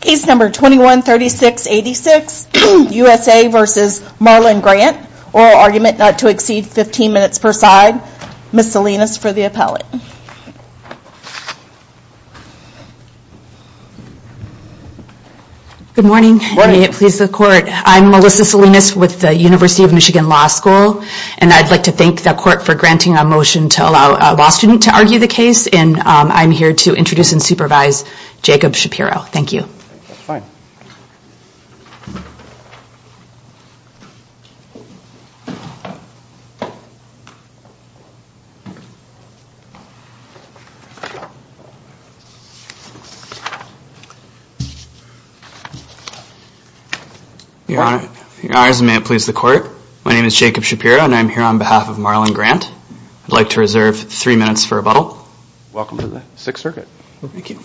Case number 21-3686, USA v. Marlon Grant, oral argument not to exceed 15 minutes per side, Ms. Salinas for the appellate. Good morning and may it please the court. I'm Melissa Salinas with the University of Michigan Law School and I'd like to thank the court for granting a motion to allow a law student to argue the case and I'm here to introduce and supervise Jacob Shapiro. Thank you. Fine. Your Honor, may it please the court. My name is Jacob Shapiro and I'm here on behalf of Marlon Grant. I'd like to reserve three minutes for rebuttal. Thank you.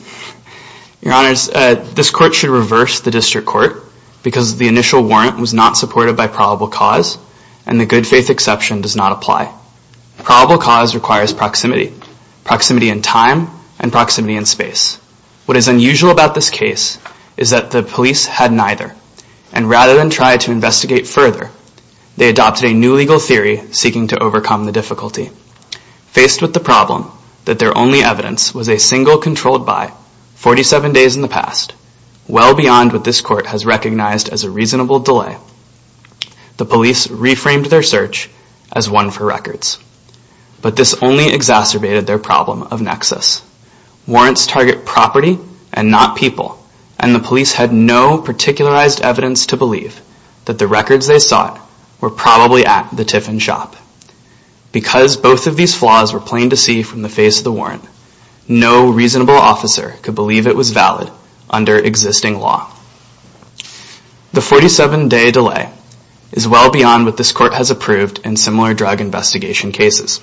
Your Honors, this court should reverse the district court because the initial warrant was not supported by probable cause and the good faith exception does not apply. Probable cause requires proximity. Proximity in time and proximity in space. What is unusual about this case is that the police had neither and rather than try to investigate further, they adopted a new legal theory seeking to overcome the difficulty. Faced with the problem that their only evidence was a single controlled by 47 days in the past, well beyond what this court has recognized as a reasonable delay, the police reframed their search as one for records. But this only exacerbated their problem of nexus. Warrants target property and not people and the police had no particularized evidence to believe that the records they sought were probably at the Tiffin Shop. Because both of these flaws were plain to see from the face of the warrant, no reasonable officer could believe it was valid under existing law. The 47 day delay is well beyond what this court has approved in similar drug investigation cases.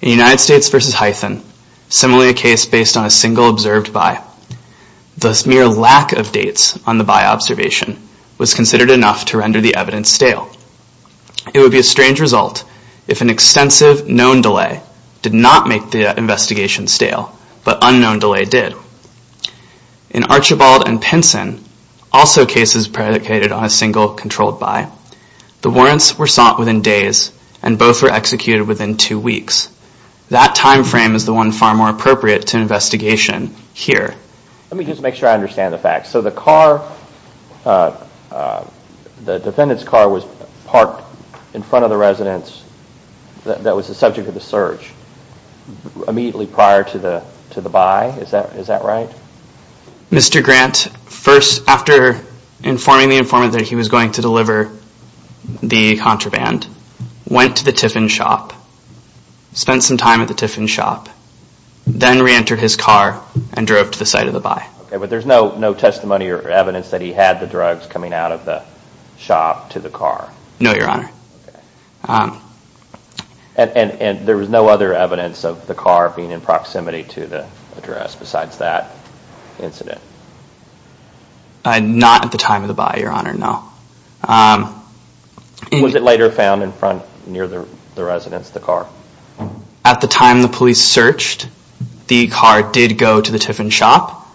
In United States v. Hythen, similarly a case based on a single observed by, the mere lack of dates on the by observation was considered enough to render the evidence stale. It would be a strange result if an extensive known delay did not make the investigation stale, but unknown delay did. In Archibald v. Pinson, also cases predicated on a single controlled by, the warrants were sought within days and both were executed within two weeks. That time frame is the one far more appropriate to investigation here. Let me just make sure I understand the facts. So the car, the defendant's car was parked in front of the residence that was the subject of the search immediately prior to the by, is that right? Mr. Grant, first after informing the informant that he was going to deliver the contraband, went to the Tiffin Shop, spent some time at the Tiffin Shop, then reentered his car and drove to the site of the by. But there's no testimony or evidence that he had the drugs coming out of the shop to the car? No, your honor. And there was no other evidence of the car being in proximity to the address besides that incident? Not at the time of the by, your honor, no. Was it later found in front near the residence, the car? At the time the police searched, the car did go to the Tiffin Shop.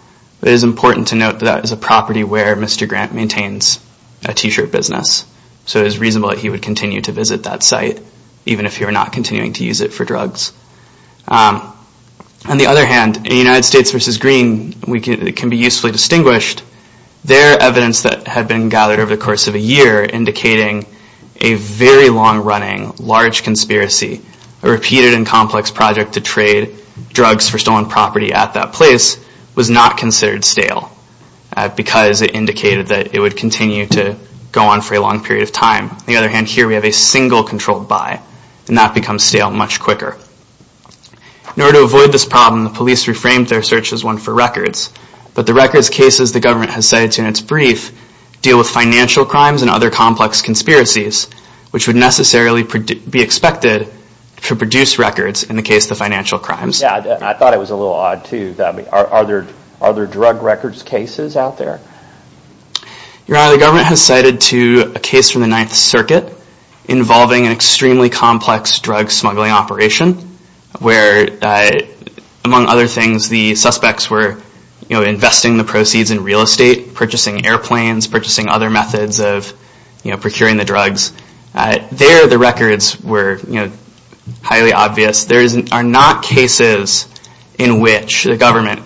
It is important to note that that is a property where Mr. Grant maintains a t-shirt business. So it is reasonable that he would continue to visit that site, even if he were not continuing to use it for drugs. On the other hand, in United States v. Green, it can be usefully distinguished, their evidence that had been gathered over the course of a year indicating a very long running, large conspiracy, a repeated and complex project to trade drugs for stolen property at that place, was not considered stale, because it indicated that it would continue to go on for a long period of time. On the other hand, here we have a single controlled by, and that becomes stale much quicker. In order to avoid this problem, the police reframed their search as one for records. But the records cases the government has cited in its brief deal with financial crimes and other complex conspiracies, which would necessarily be expected to produce records in the case of the financial crimes. I thought it was a little odd too. Are there drug records cases out there? Your Honor, the government has cited a case from the Ninth Circuit involving an extremely complex drug smuggling operation, where among other things, the suspects were investing the proceeds in real estate, purchasing airplanes, purchasing other methods of procuring the drugs. There the records were highly obvious. There are not cases in which the government,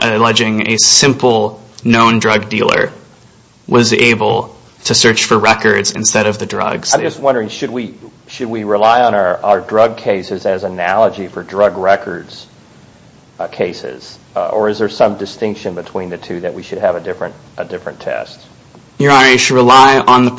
alleging a simple known drug dealer, was able to search for records instead of the drugs. I'm just wondering, should we rely on our drug cases as an analogy for drug records cases? Or is there some distinction between the two that we should have a different test? Your Honor, you should rely on the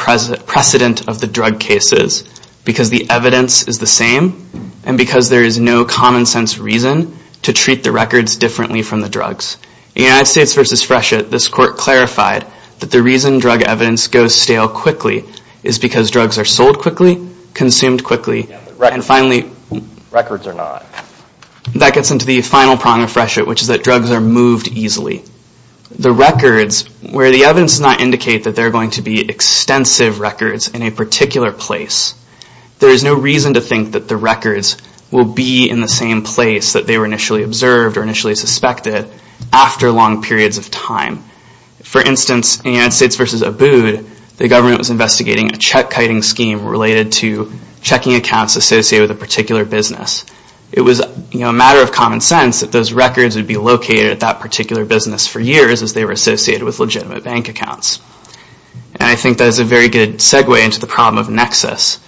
precedent of the drug cases, because the evidence is the same, and because there is no common sense reason to treat the records differently from the drugs. In United States v. Freshet, this court clarified that the reason drug evidence goes stale quickly is because drugs are sold quickly, consumed quickly, and finally records are not. That gets into the final prong of Freshet, which is that drugs are moved easily. The records, where the evidence does not indicate that there are going to be extensive records in a particular place, there is no reason to think that the records will be in the same place that they were initially observed or initially suspected. After long periods of time. For instance, in United States v. Abood, the government was investigating a check-kiting scheme related to checking accounts associated with a particular business. It was a matter of common sense that those records would be located at that particular business for years as they were associated with legitimate bank accounts. And I think that is a very good segue into the problem of nexus.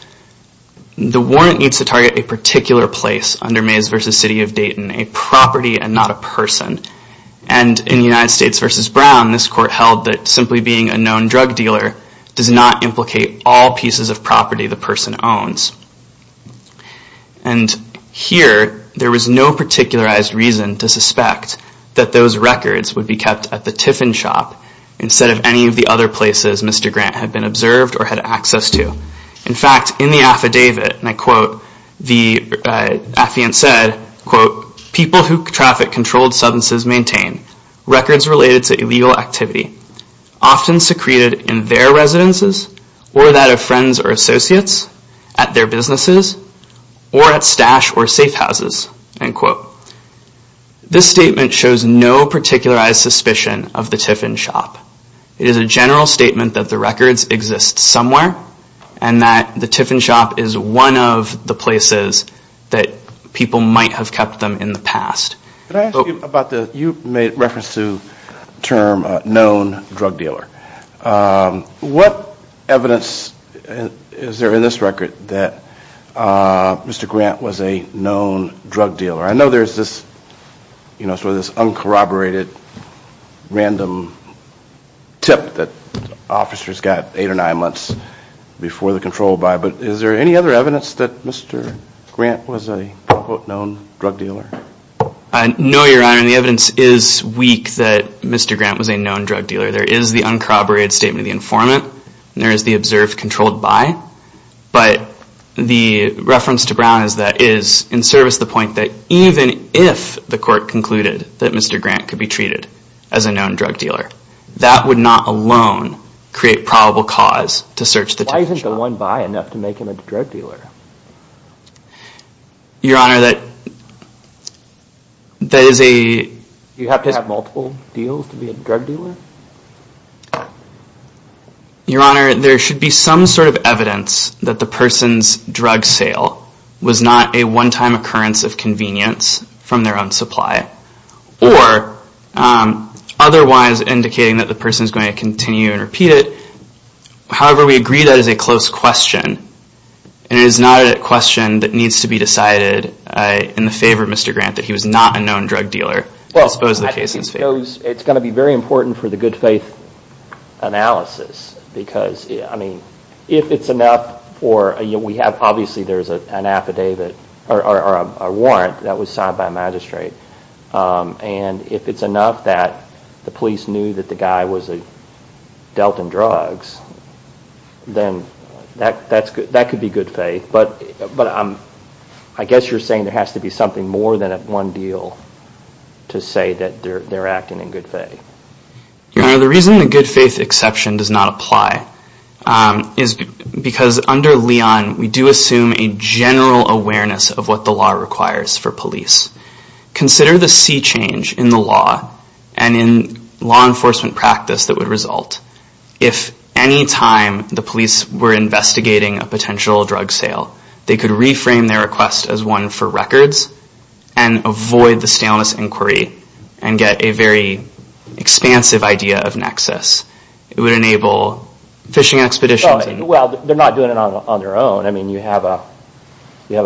The warrant needs to target a particular place under Mays v. City of Dayton, a property and not a person. And in United States v. Brown, this court held that simply being a known drug dealer does not implicate all pieces of property the person owns. And here, there was no particularized reason to suspect that those records would be kept at the Tiffin Shop instead of any of the other places Mr. Grant had been observed or had access to. In fact, in the affidavit, and I quote, the affidavit said, quote, people who traffic controlled substances maintain records related to illegal activity often secreted in their residences or that of friends or associates, at their businesses, or at stash or safe houses. End quote. This statement shows no particularized suspicion of the Tiffin Shop. It is a general statement that the records exist somewhere and that the Tiffin Shop is one of the places that people might have kept them in the past. Could I ask you about the, you made reference to the term known drug dealer. What evidence is there in this record that Mr. Grant was a known drug dealer? I know there's this, you know, sort of this uncorroborated random tip that officers got eight or nine months before the control buy, but is there any other evidence that Mr. Grant was a quote, known drug dealer? No, Your Honor. The evidence is weak that Mr. Grant was a known drug dealer. There is the uncorroborated statement of the informant. There is the observed controlled buy. But the reference to Brown is that it is in service the point that even if the court concluded that Mr. Grant could be treated as a known drug dealer, that would not alone create probable cause to search the Tiffin Shop. Why isn't the one buy enough to make him a drug dealer? Your Honor, that is a... Do you have to have multiple deals to be a drug dealer? Your Honor, there should be some sort of evidence that the person's drug sale was not a one-time occurrence of convenience from their own supply, or otherwise indicating that the person is going to continue and repeat it. However, we agree that is a close question, and it is not a question that needs to be decided in the favor of Mr. Grant that he was not a known drug dealer. I suppose the case is fair. It is going to be very important for the good faith analysis, because if it is enough, obviously there is a warrant that was signed by a magistrate, and if it is enough that the police knew that the guy was dealt in drugs, then that could be good faith. But I guess you are saying there has to be something more than one deal to say that they are acting in good faith. Your Honor, the reason the good faith exception does not apply is because under Leon we do assume a general awareness of what the law requires for police. Consider the sea change in the law and in law enforcement practice that would result if any time the police were investigating a potential drug sale, they could reframe their request as one for records and avoid the staleness inquiry and get a very expansive idea of nexus. It would enable fishing expeditions. Well, they are not doing it on their own. I mean you have a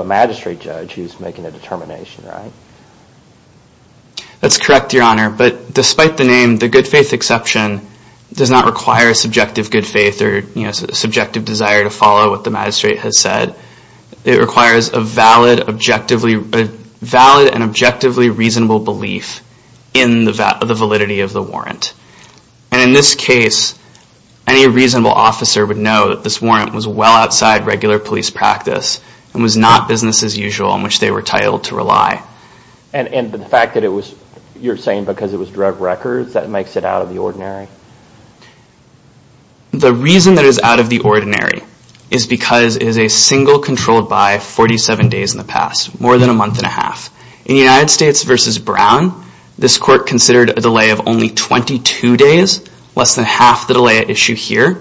magistrate judge who is making a determination, right? That is correct, Your Honor. But despite the name, the good faith exception does not require subjective good faith or subjective desire to follow what the magistrate has said. It requires a valid and objectively reasonable belief in the validity of the warrant. And in this case, any reasonable officer would know that this warrant was well outside regular police practice and was not business as usual in which they were titled to rely. And the fact that you are saying because it was drug records, that makes it out of the ordinary? The reason that it is out of the ordinary is because it is a single controlled by 47 days in the past, more than a month and a half. In the United States versus Brown, this court considered a delay of only 22 days, less than half the delay at issue here,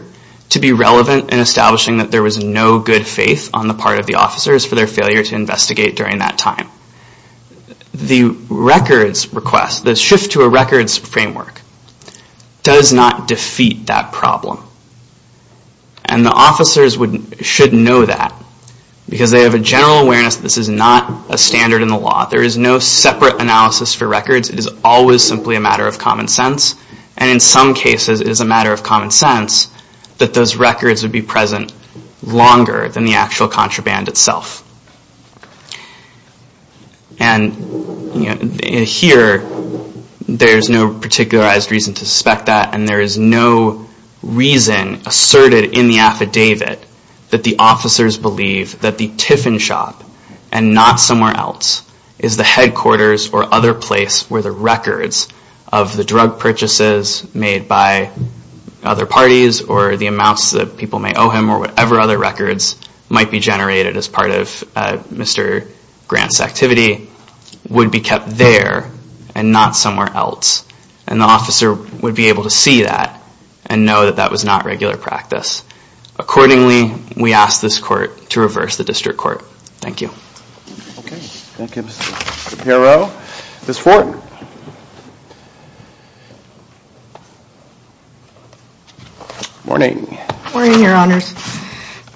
to be relevant in establishing that there was no good faith on the part of the officers for their failure to investigate during that time. The records request, the shift to a records framework, does not defeat that problem. And the officers should know that because they have a general awareness that this is not a standard in the law. There is no separate analysis for records. It is always simply a matter of common sense. And in some cases, it is a matter of common sense that those records would be present longer than the actual contraband itself. And here, there is no particularized reason to suspect that. And there is no reason asserted in the affidavit that the officers believe that the Tiffin Shop and not somewhere else is the headquarters or other place where the records of the drug purchases made by other parties or the amounts that people may owe him or whatever other records might be generated as part of Mr. Grant's activity would be kept there and not somewhere else. And the officer would be able to see that and know that that was not regular practice. Accordingly, we ask this court to reverse the district court. Thank you. Okay. Thank you, Mr. Shapiro. Ms. Forten. Morning. Morning, Your Honors.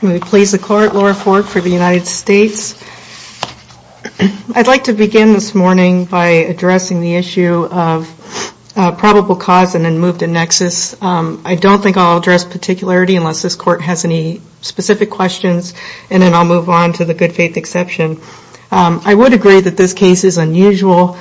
I'm going to please the court, Laura Fort for the United States. I'd like to begin this morning by addressing the issue of probable cause and then move to nexus. I don't think I'll address particularity unless this court has any specific questions and then I'll move on to the good faith exception. I would agree that this case is unusual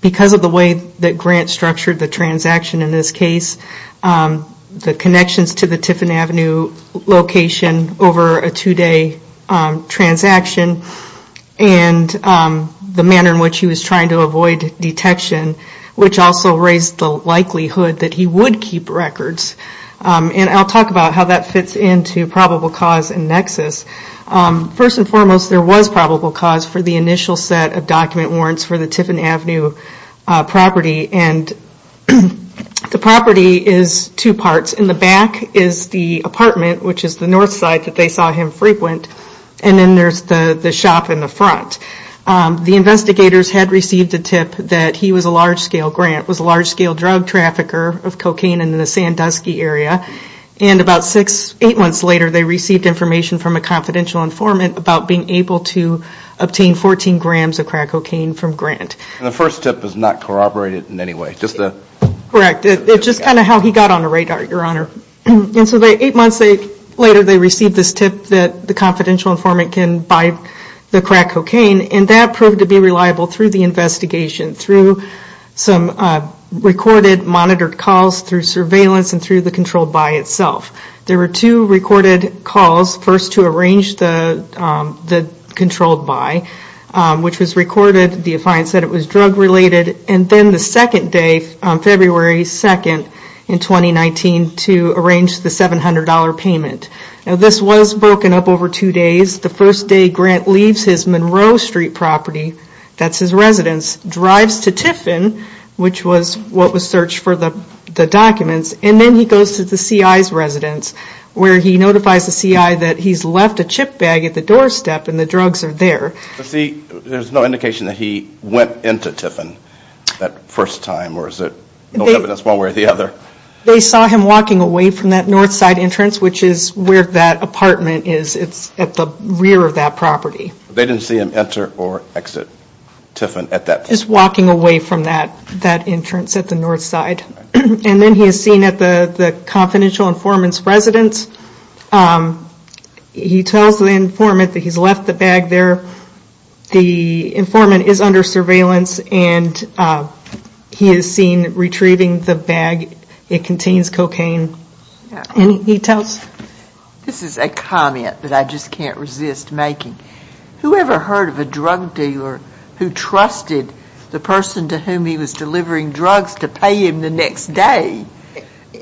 because of the way that Grant structured the transaction in this case. The connections to the Tiffin Avenue location over a two-day transaction and the manner in which he was trying to avoid detection, which also raised the likelihood that he would keep records. And I'll talk about how that fits into probable cause and nexus. First and foremost, there was probable cause for the initial set of document warrants for the Tiffin Avenue property. And the property is two parts. In the back is the apartment, which is the north side that they saw him frequent, and then there's the shop in the front. The investigators had received a tip that he was a large-scale grant, was a large-scale drug trafficker of cocaine in the Sandusky area. And about six, eight months later, they received information from a confidential informant about being able to obtain 14 grams of crack cocaine from Grant. And the first tip was not corroborated in any way? Correct. It's just kind of how he got on the radar, Your Honor. And so eight months later, they received this tip that the confidential informant can buy the crack cocaine, and that proved to be reliable through the investigation, through some recorded monitored calls, through surveillance, and through the controlled buy itself. There were two recorded calls, first to arrange the controlled buy, which was recorded, the client said it was drug-related, and then the second day, February 2nd, in 2019, to arrange the $700 payment. Now this was broken up over two days. The first day Grant leaves his Monroe Street property, that's his residence, drives to Tiffin, which was what was searched for the documents, and then he goes to the CI's residence, where he notifies the CI that he's left a chip bag at the doorstep and the drugs are there. But see, there's no indication that he went into Tiffin that first time, or is it no evidence one way or the other? They saw him walking away from that north side entrance, which is where that apartment is, it's at the rear of that property. They didn't see him enter or exit Tiffin at that point? Just walking away from that entrance at the north side. And then he is seen at the confidential informant's residence. He tells the informant that he's left the bag there. The informant is under surveillance, and he is seen retrieving the bag. It contains cocaine. Any details? This is a comment that I just can't resist making. Whoever heard of a drug dealer who trusted the person to whom he was delivering drugs to pay him the next day?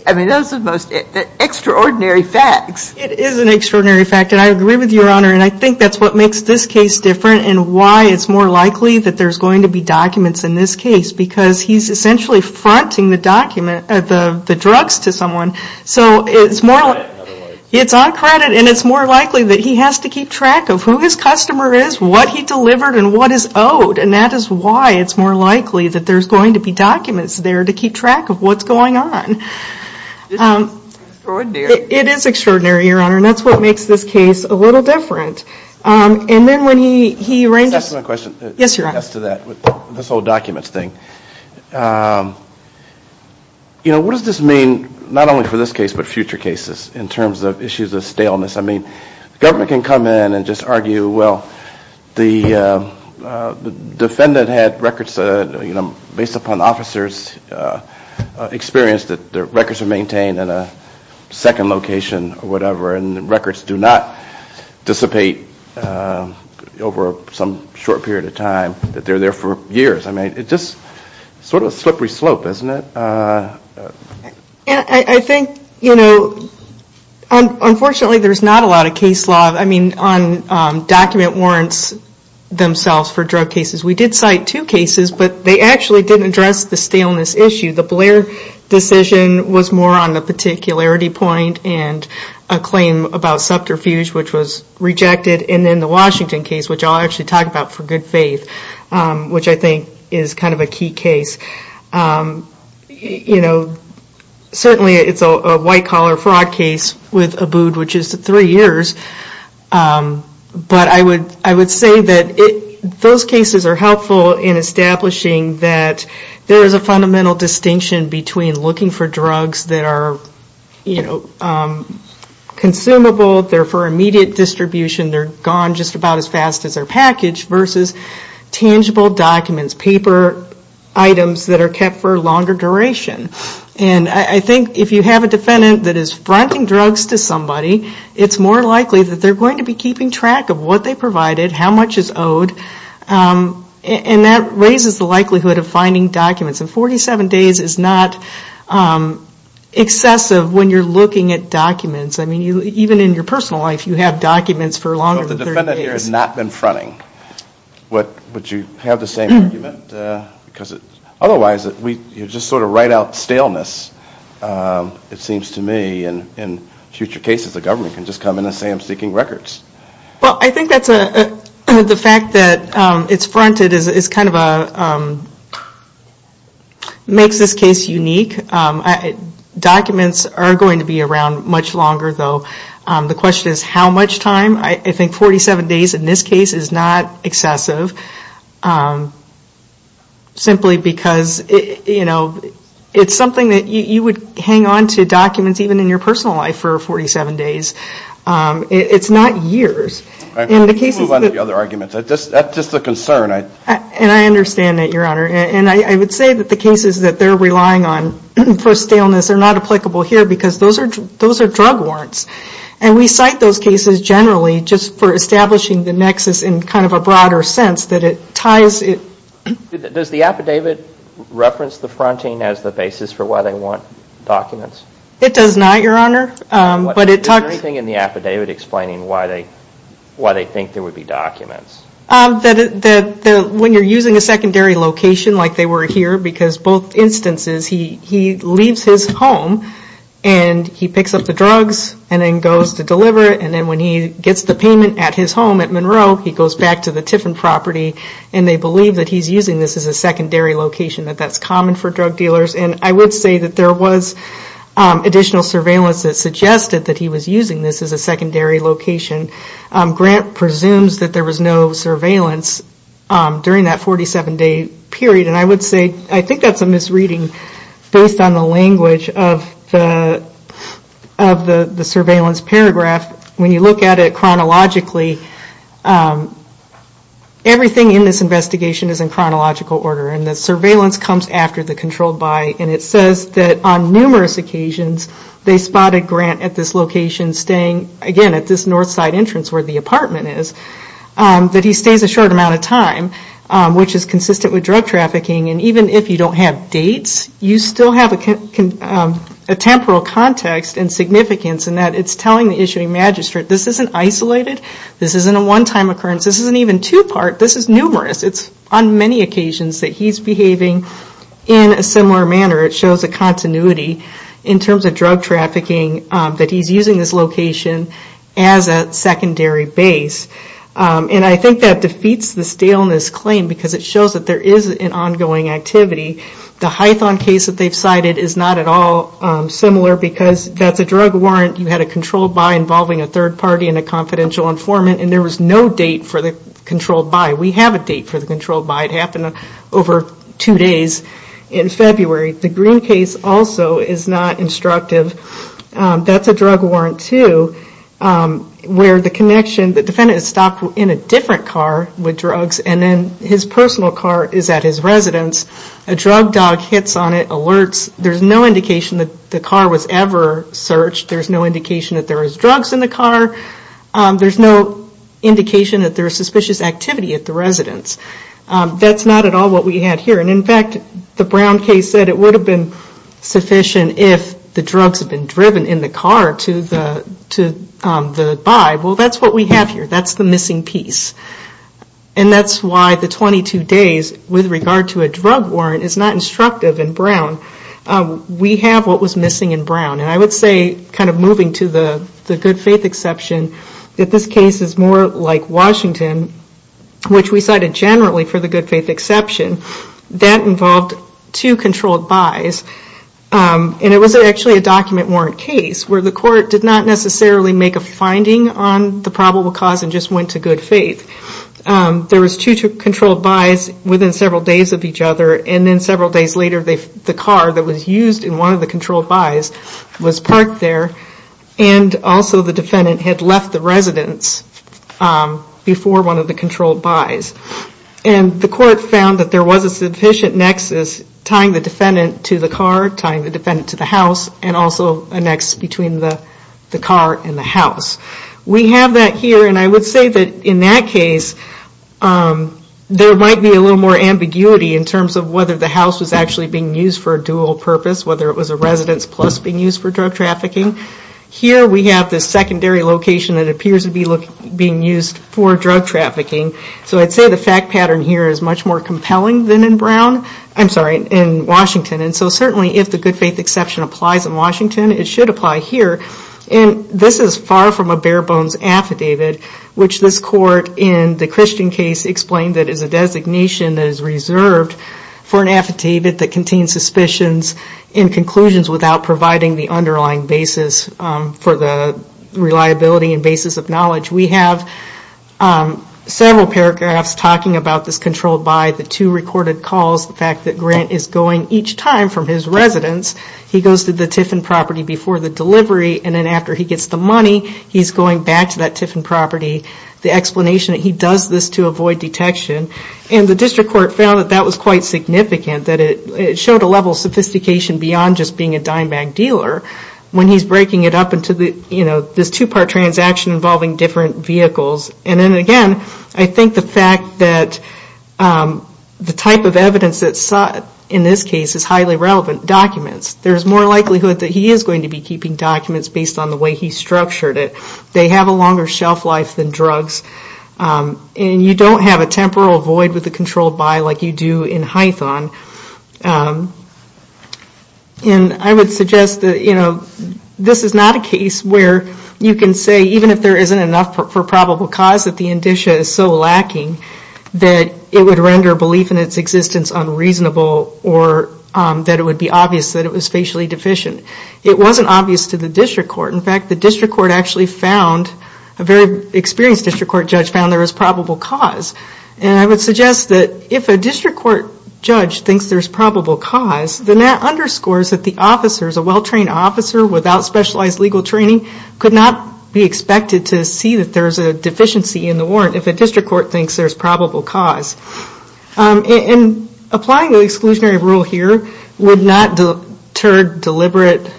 I mean, those are the most extraordinary facts. It is an extraordinary fact, and I agree with you, Your Honor, and I think that's what makes this case different and why it's more likely that there's going to be documents in this case, because he's essentially fronting the drugs to someone. So it's on credit, and it's more likely that he has to keep track of who his customer is, what he delivered, and what is owed, and that is why it's more likely that there's going to be documents there to keep track of what's going on. It's extraordinary. It is extraordinary, Your Honor, and that's what makes this case a little different. And then when he arranges... Can I ask one question? Yes, Your Honor. As to that, this whole documents thing. You know, what does this mean not only for this case but future cases I mean, the government can come in and just argue, well, the defendant had records, you know, based upon the officer's experience, that the records are maintained in a second location or whatever, and the records do not dissipate over some short period of time, that they're there for years. I mean, it's just sort of a slippery slope, isn't it? I think, you know, unfortunately there's not a lot of case law. I mean, on document warrants themselves for drug cases, we did cite two cases, but they actually didn't address the staleness issue. The Blair decision was more on the particularity point and a claim about subterfuge, which was rejected, and then the Washington case, which I'll actually talk about for good faith, which I think is kind of a key case. You know, certainly it's a white-collar fraud case with Abood, which is three years, but I would say that those cases are helpful in establishing that there is a fundamental distinction between looking for drugs that are, you know, consumable, they're for immediate distribution, they're gone just about as fast as their package, versus tangible documents, paper items that are kept for a longer duration. And I think if you have a defendant that is fronting drugs to somebody, it's more likely that they're going to be keeping track of what they provided, how much is owed, and that raises the likelihood of finding documents. And 47 days is not excessive when you're looking at documents. I mean, even in your personal life, you have documents for longer than 30 days. So if the defendant here has not been fronting, would you have the same argument? Because otherwise we just sort of write out staleness, it seems to me, and in future cases the government can just come in and say, I'm seeking records. Well, I think the fact that it's fronted makes this case unique. Documents are going to be around much longer, though. The question is how much time. I think 47 days in this case is not excessive, simply because it's something that you would hang on to documents even in your personal life for 47 days. It's not years. Let's move on to the other arguments. That's just a concern. And I understand that, Your Honor. And I would say that the cases that they're relying on for staleness are not applicable here because those are drug warrants. And we cite those cases generally just for establishing the nexus in kind of a broader sense that it ties it. Does the affidavit reference the fronting as the basis for why they want documents? It does not, Your Honor. Is there anything in the affidavit explaining why they think there would be documents? When you're using a secondary location like they were here, because both instances he leaves his home and he picks up the drugs and then goes to deliver it, and then when he gets the payment at his home at Monroe, he goes back to the Tiffin property and they believe that he's using this as a secondary location, that that's common for drug dealers. And I would say that there was additional surveillance that suggested that he was using this as a secondary location. Grant presumes that there was no surveillance during that 47-day period. In this passage of the surveillance paragraph, when you look at it chronologically, everything in this investigation is in chronological order and the surveillance comes after the controlled buy and it says that on numerous occasions they spotted Grant at this location staying, again, at this north side entrance where the apartment is, that he stays a short amount of time, which is consistent with drug trafficking. And even if you don't have dates, you still have a temporal context and significance in that it's telling the issuing magistrate this isn't isolated, this isn't a one-time occurrence, this isn't even two-part, this is numerous. It's on many occasions that he's behaving in a similar manner. It shows a continuity in terms of drug trafficking, that he's using this location as a secondary base. And I think that defeats the staleness claim because it shows that there is an ongoing activity. The Hython case that they've cited is not at all similar because that's a drug warrant. You had a controlled buy involving a third party and a confidential informant and there was no date for the controlled buy. We have a date for the controlled buy. It happened over two days in February. The Green case also is not instructive. That's a drug warrant, too, where the connection, the defendant is stopped in a different car with drugs and then his personal car is at his residence. A drug dog hits on it, alerts. There's no indication that the car was ever searched. There's no indication that there was drugs in the car. There's no indication that there was suspicious activity at the residence. That's not at all what we had here. And, in fact, the Brown case said it would have been sufficient if the drugs had been driven in the car to the buy. Well, that's what we have here. That's the missing piece. And that's why the 22 days, with regard to a drug warrant, is not instructive in Brown. We have what was missing in Brown. And I would say, kind of moving to the good faith exception, that this case is more like Washington, which we cited generally for the good faith exception. That involved two controlled buys. And it was actually a document warrant case where the court did not necessarily make a finding on the probable cause and just went to good faith. There was two controlled buys within several days of each other. And then several days later, the car that was used in one of the controlled buys was parked there. And also the defendant had left the residence before one of the controlled buys. And the court found that there was a sufficient nexus tying the defendant to the car, tying the defendant to the house, and also a nexus between the car and the house. We have that here. And I would say that in that case, there might be a little more ambiguity in terms of whether the house was actually being used for a dual purpose, whether it was a residence plus being used for drug trafficking. Here we have this secondary location that appears to be being used for drug trafficking. So I'd say the fact pattern here is much more compelling than in Brown. I'm sorry, in Washington. And so certainly if the good faith exception applies in Washington, it should apply here. And this is far from a bare bones affidavit, which this court, in the Christian case, explained that it is a designation that is reserved for an affidavit that contains suspicions and conclusions without providing the underlying basis for the reliability and basis of knowledge. We have several paragraphs talking about this controlled buy, the two recorded calls, the fact that Grant is going each time from his residence. He goes to the Tiffin property before the delivery and then after he gets the money, he's going back to that Tiffin property. The explanation that he does this to avoid detection. And the district court found that that was quite significant, that it showed a level of sophistication beyond just being a dime bag dealer when he's breaking it up into this two-part transaction And then again, I think the fact that the type of evidence that's sought in this case is highly relevant documents. There's more likelihood that he is going to be keeping documents based on the way he structured it. They have a longer shelf life than drugs. And you don't have a temporal void with the controlled buy like you do in Hython. And I would suggest that this is not a case where you can say, even if there isn't enough for probable cause that the indicia is so lacking, that it would render belief in its existence unreasonable or that it would be obvious that it was facially deficient. It wasn't obvious to the district court. In fact, the district court actually found, a very experienced district court judge found, there was probable cause. And I would suggest that if a district court judge thinks there's probable cause, then that underscores that the officers, a well-trained officer without specialized legal training, could not be expected to see that there's a deficiency in the warrant if a district court thinks there's probable cause. And applying the exclusionary rule here would not deter deliberate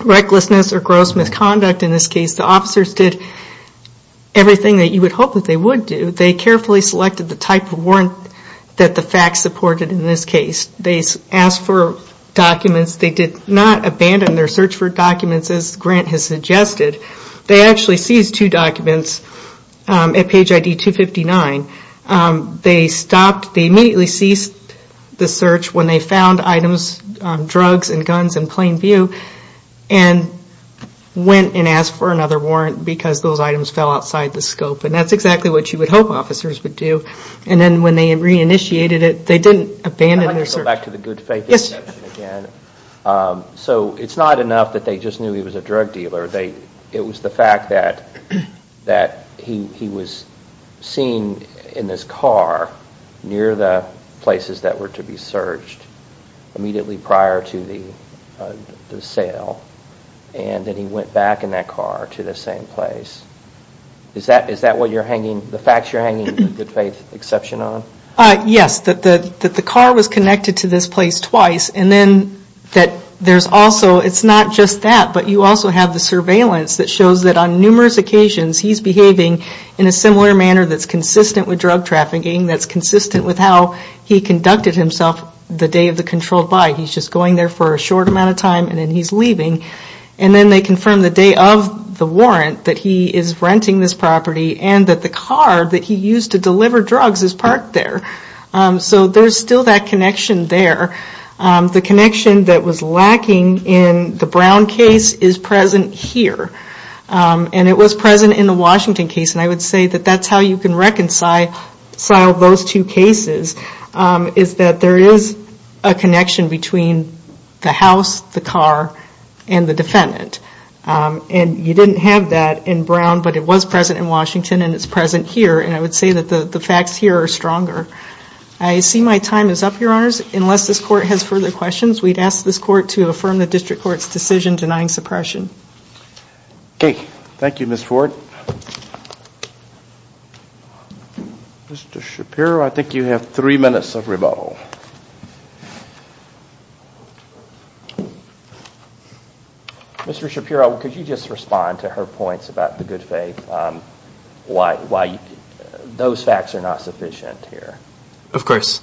recklessness or gross misconduct in this case. The officers did everything that you would hope that they would do. They carefully selected the type of warrant that the facts supported in this case. They asked for documents. They did not abandon their search for documents, as Grant has suggested. They actually seized two documents at page ID 259. They stopped, they immediately ceased the search when they found items, drugs and guns in plain view and went and asked for another warrant because those items fell outside the scope. And that's exactly what you would hope officers would do. And then when they re-initiated it, they didn't abandon their search. I'd like to go back to the good faith assumption again. So it's not enough that they just knew he was a drug dealer. It was the fact that he was seen in this car near the places that were to be searched immediately prior to the sale. And then he went back in that car to the same place. Is that what you're hanging, the facts you're hanging the good faith exception on? Yes, that the car was connected to this place twice and then that there's also, it's not just that, but you also have the surveillance that shows that on numerous occasions he's behaving in a similar manner that's consistent with drug trafficking, that's consistent with how he conducted himself the day of the controlled buy. He's just going there for a short amount of time and then he's leaving. And then they confirm the day of the warrant that he is renting this property and that the car that he used to deliver drugs is parked there. So there's still that connection there. The connection that was lacking in the Brown case is present here. And it was present in the Washington case and I would say that that's how you can reconcile those two cases is that there is a connection between the house, the car, and the defendant. And you didn't have that in Brown but it was present in Washington and it's present here and I would say that the facts here are stronger. I see my time is up, Your Honors, unless this Court has further questions, we'd ask this Court to affirm the District Court's decision denying suppression. Okay. Thank you, Ms. Ford. Mr. Shapiro, I think you have three minutes of rebuttal. Mr. Shapiro, could you just respond to her points about the good faith? Why those facts are not sufficient here? Of course.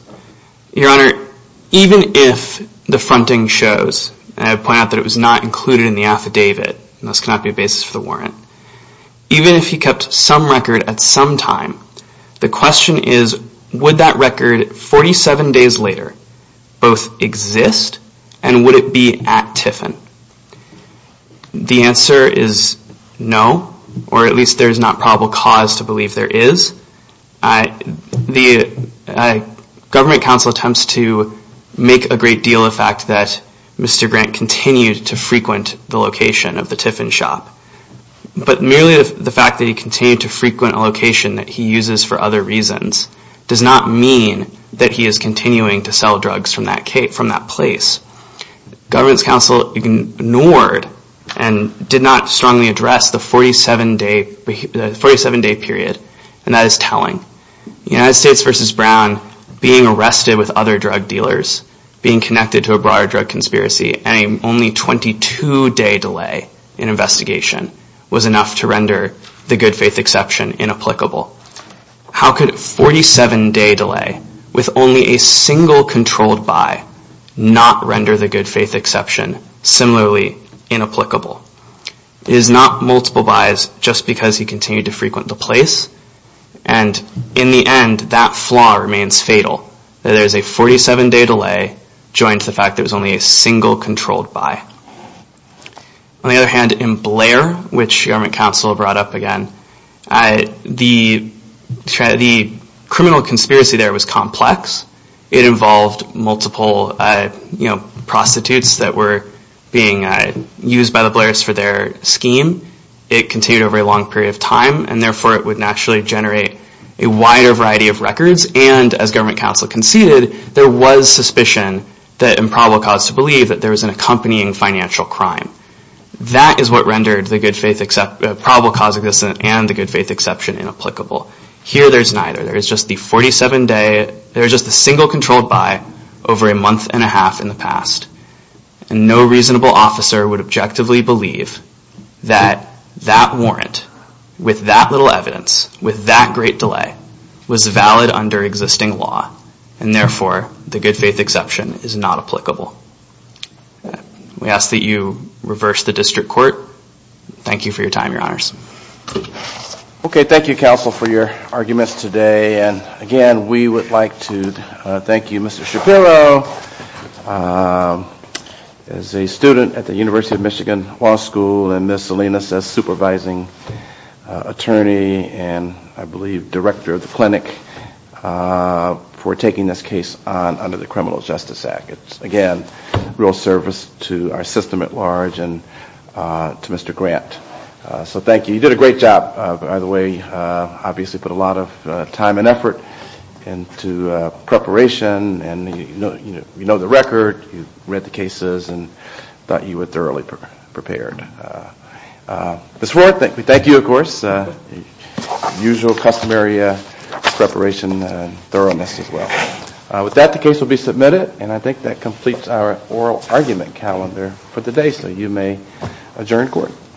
Your Honor, even if the fronting shows, and I point out that it was not included in the affidavit, and this cannot be a basis for the warrant, even if he kept some record at some time, the question is would that record 47 days later both exist and would it be at Tiffin? The answer is no, or at least there's not probable cause to believe there is. The Government Counsel attempts to make a great deal of the fact that Mr. Grant continued to frequent the location of the Tiffin shop, but merely the fact that he continued to frequent a location that he uses for other reasons does not mean that he is continuing to sell drugs from that place. Government Counsel ignored and did not strongly address the 47-day period, and that is telling. The United States v. Brown, being arrested with other drug dealers, being connected to a broader drug conspiracy, and a only 22-day delay in investigation was enough to render the good faith exception inapplicable. How could a 47-day delay with only a single controlled buy not render the good faith exception similarly inapplicable? It is not multiple buys just because he continued to frequent the place, and in the end that flaw remains fatal, that there is a 47-day delay joined to the fact that it was only a single controlled buy. On the other hand, in Blair, which Government Counsel brought up again, the criminal conspiracy there was complex. It involved multiple prostitutes that were being used by the Blairs for their scheme. It continued over a long period of time, and therefore it would naturally generate a wider variety of records, and as Government Counsel conceded, there was suspicion that and probable cause to believe that there was an accompanying financial crime. That is what rendered the probable cause of this and the good faith exception inapplicable. Here there is neither. There is just the single controlled buy over a month and a half in the past, and no reasonable officer would objectively believe that that warrant with that little evidence, with that great delay, was valid under existing law, and therefore the good faith exception is not applicable. We ask that you reverse the District Court. Thank you for your time, Your Honors. Okay, thank you, Counsel, for your arguments today, and again, we would like to thank you. Mr. Shapiro is a student at the University of Michigan Law School, and Ms. Salinas is Supervising Attorney and I believe Director of the Clinic for taking this case under the Criminal Justice Act. Again, real service to our system at large and to Mr. Grant. So thank you. You did a great job, by the way. Obviously put a lot of time and effort into preparation and you know the record, you read the cases, and thought you were thoroughly prepared. Ms. Ward, we thank you, of course. Usual customary preparation and thoroughness as well. With that, the case will be submitted, and I think that completes our oral argument calendar for today, so you may adjourn court.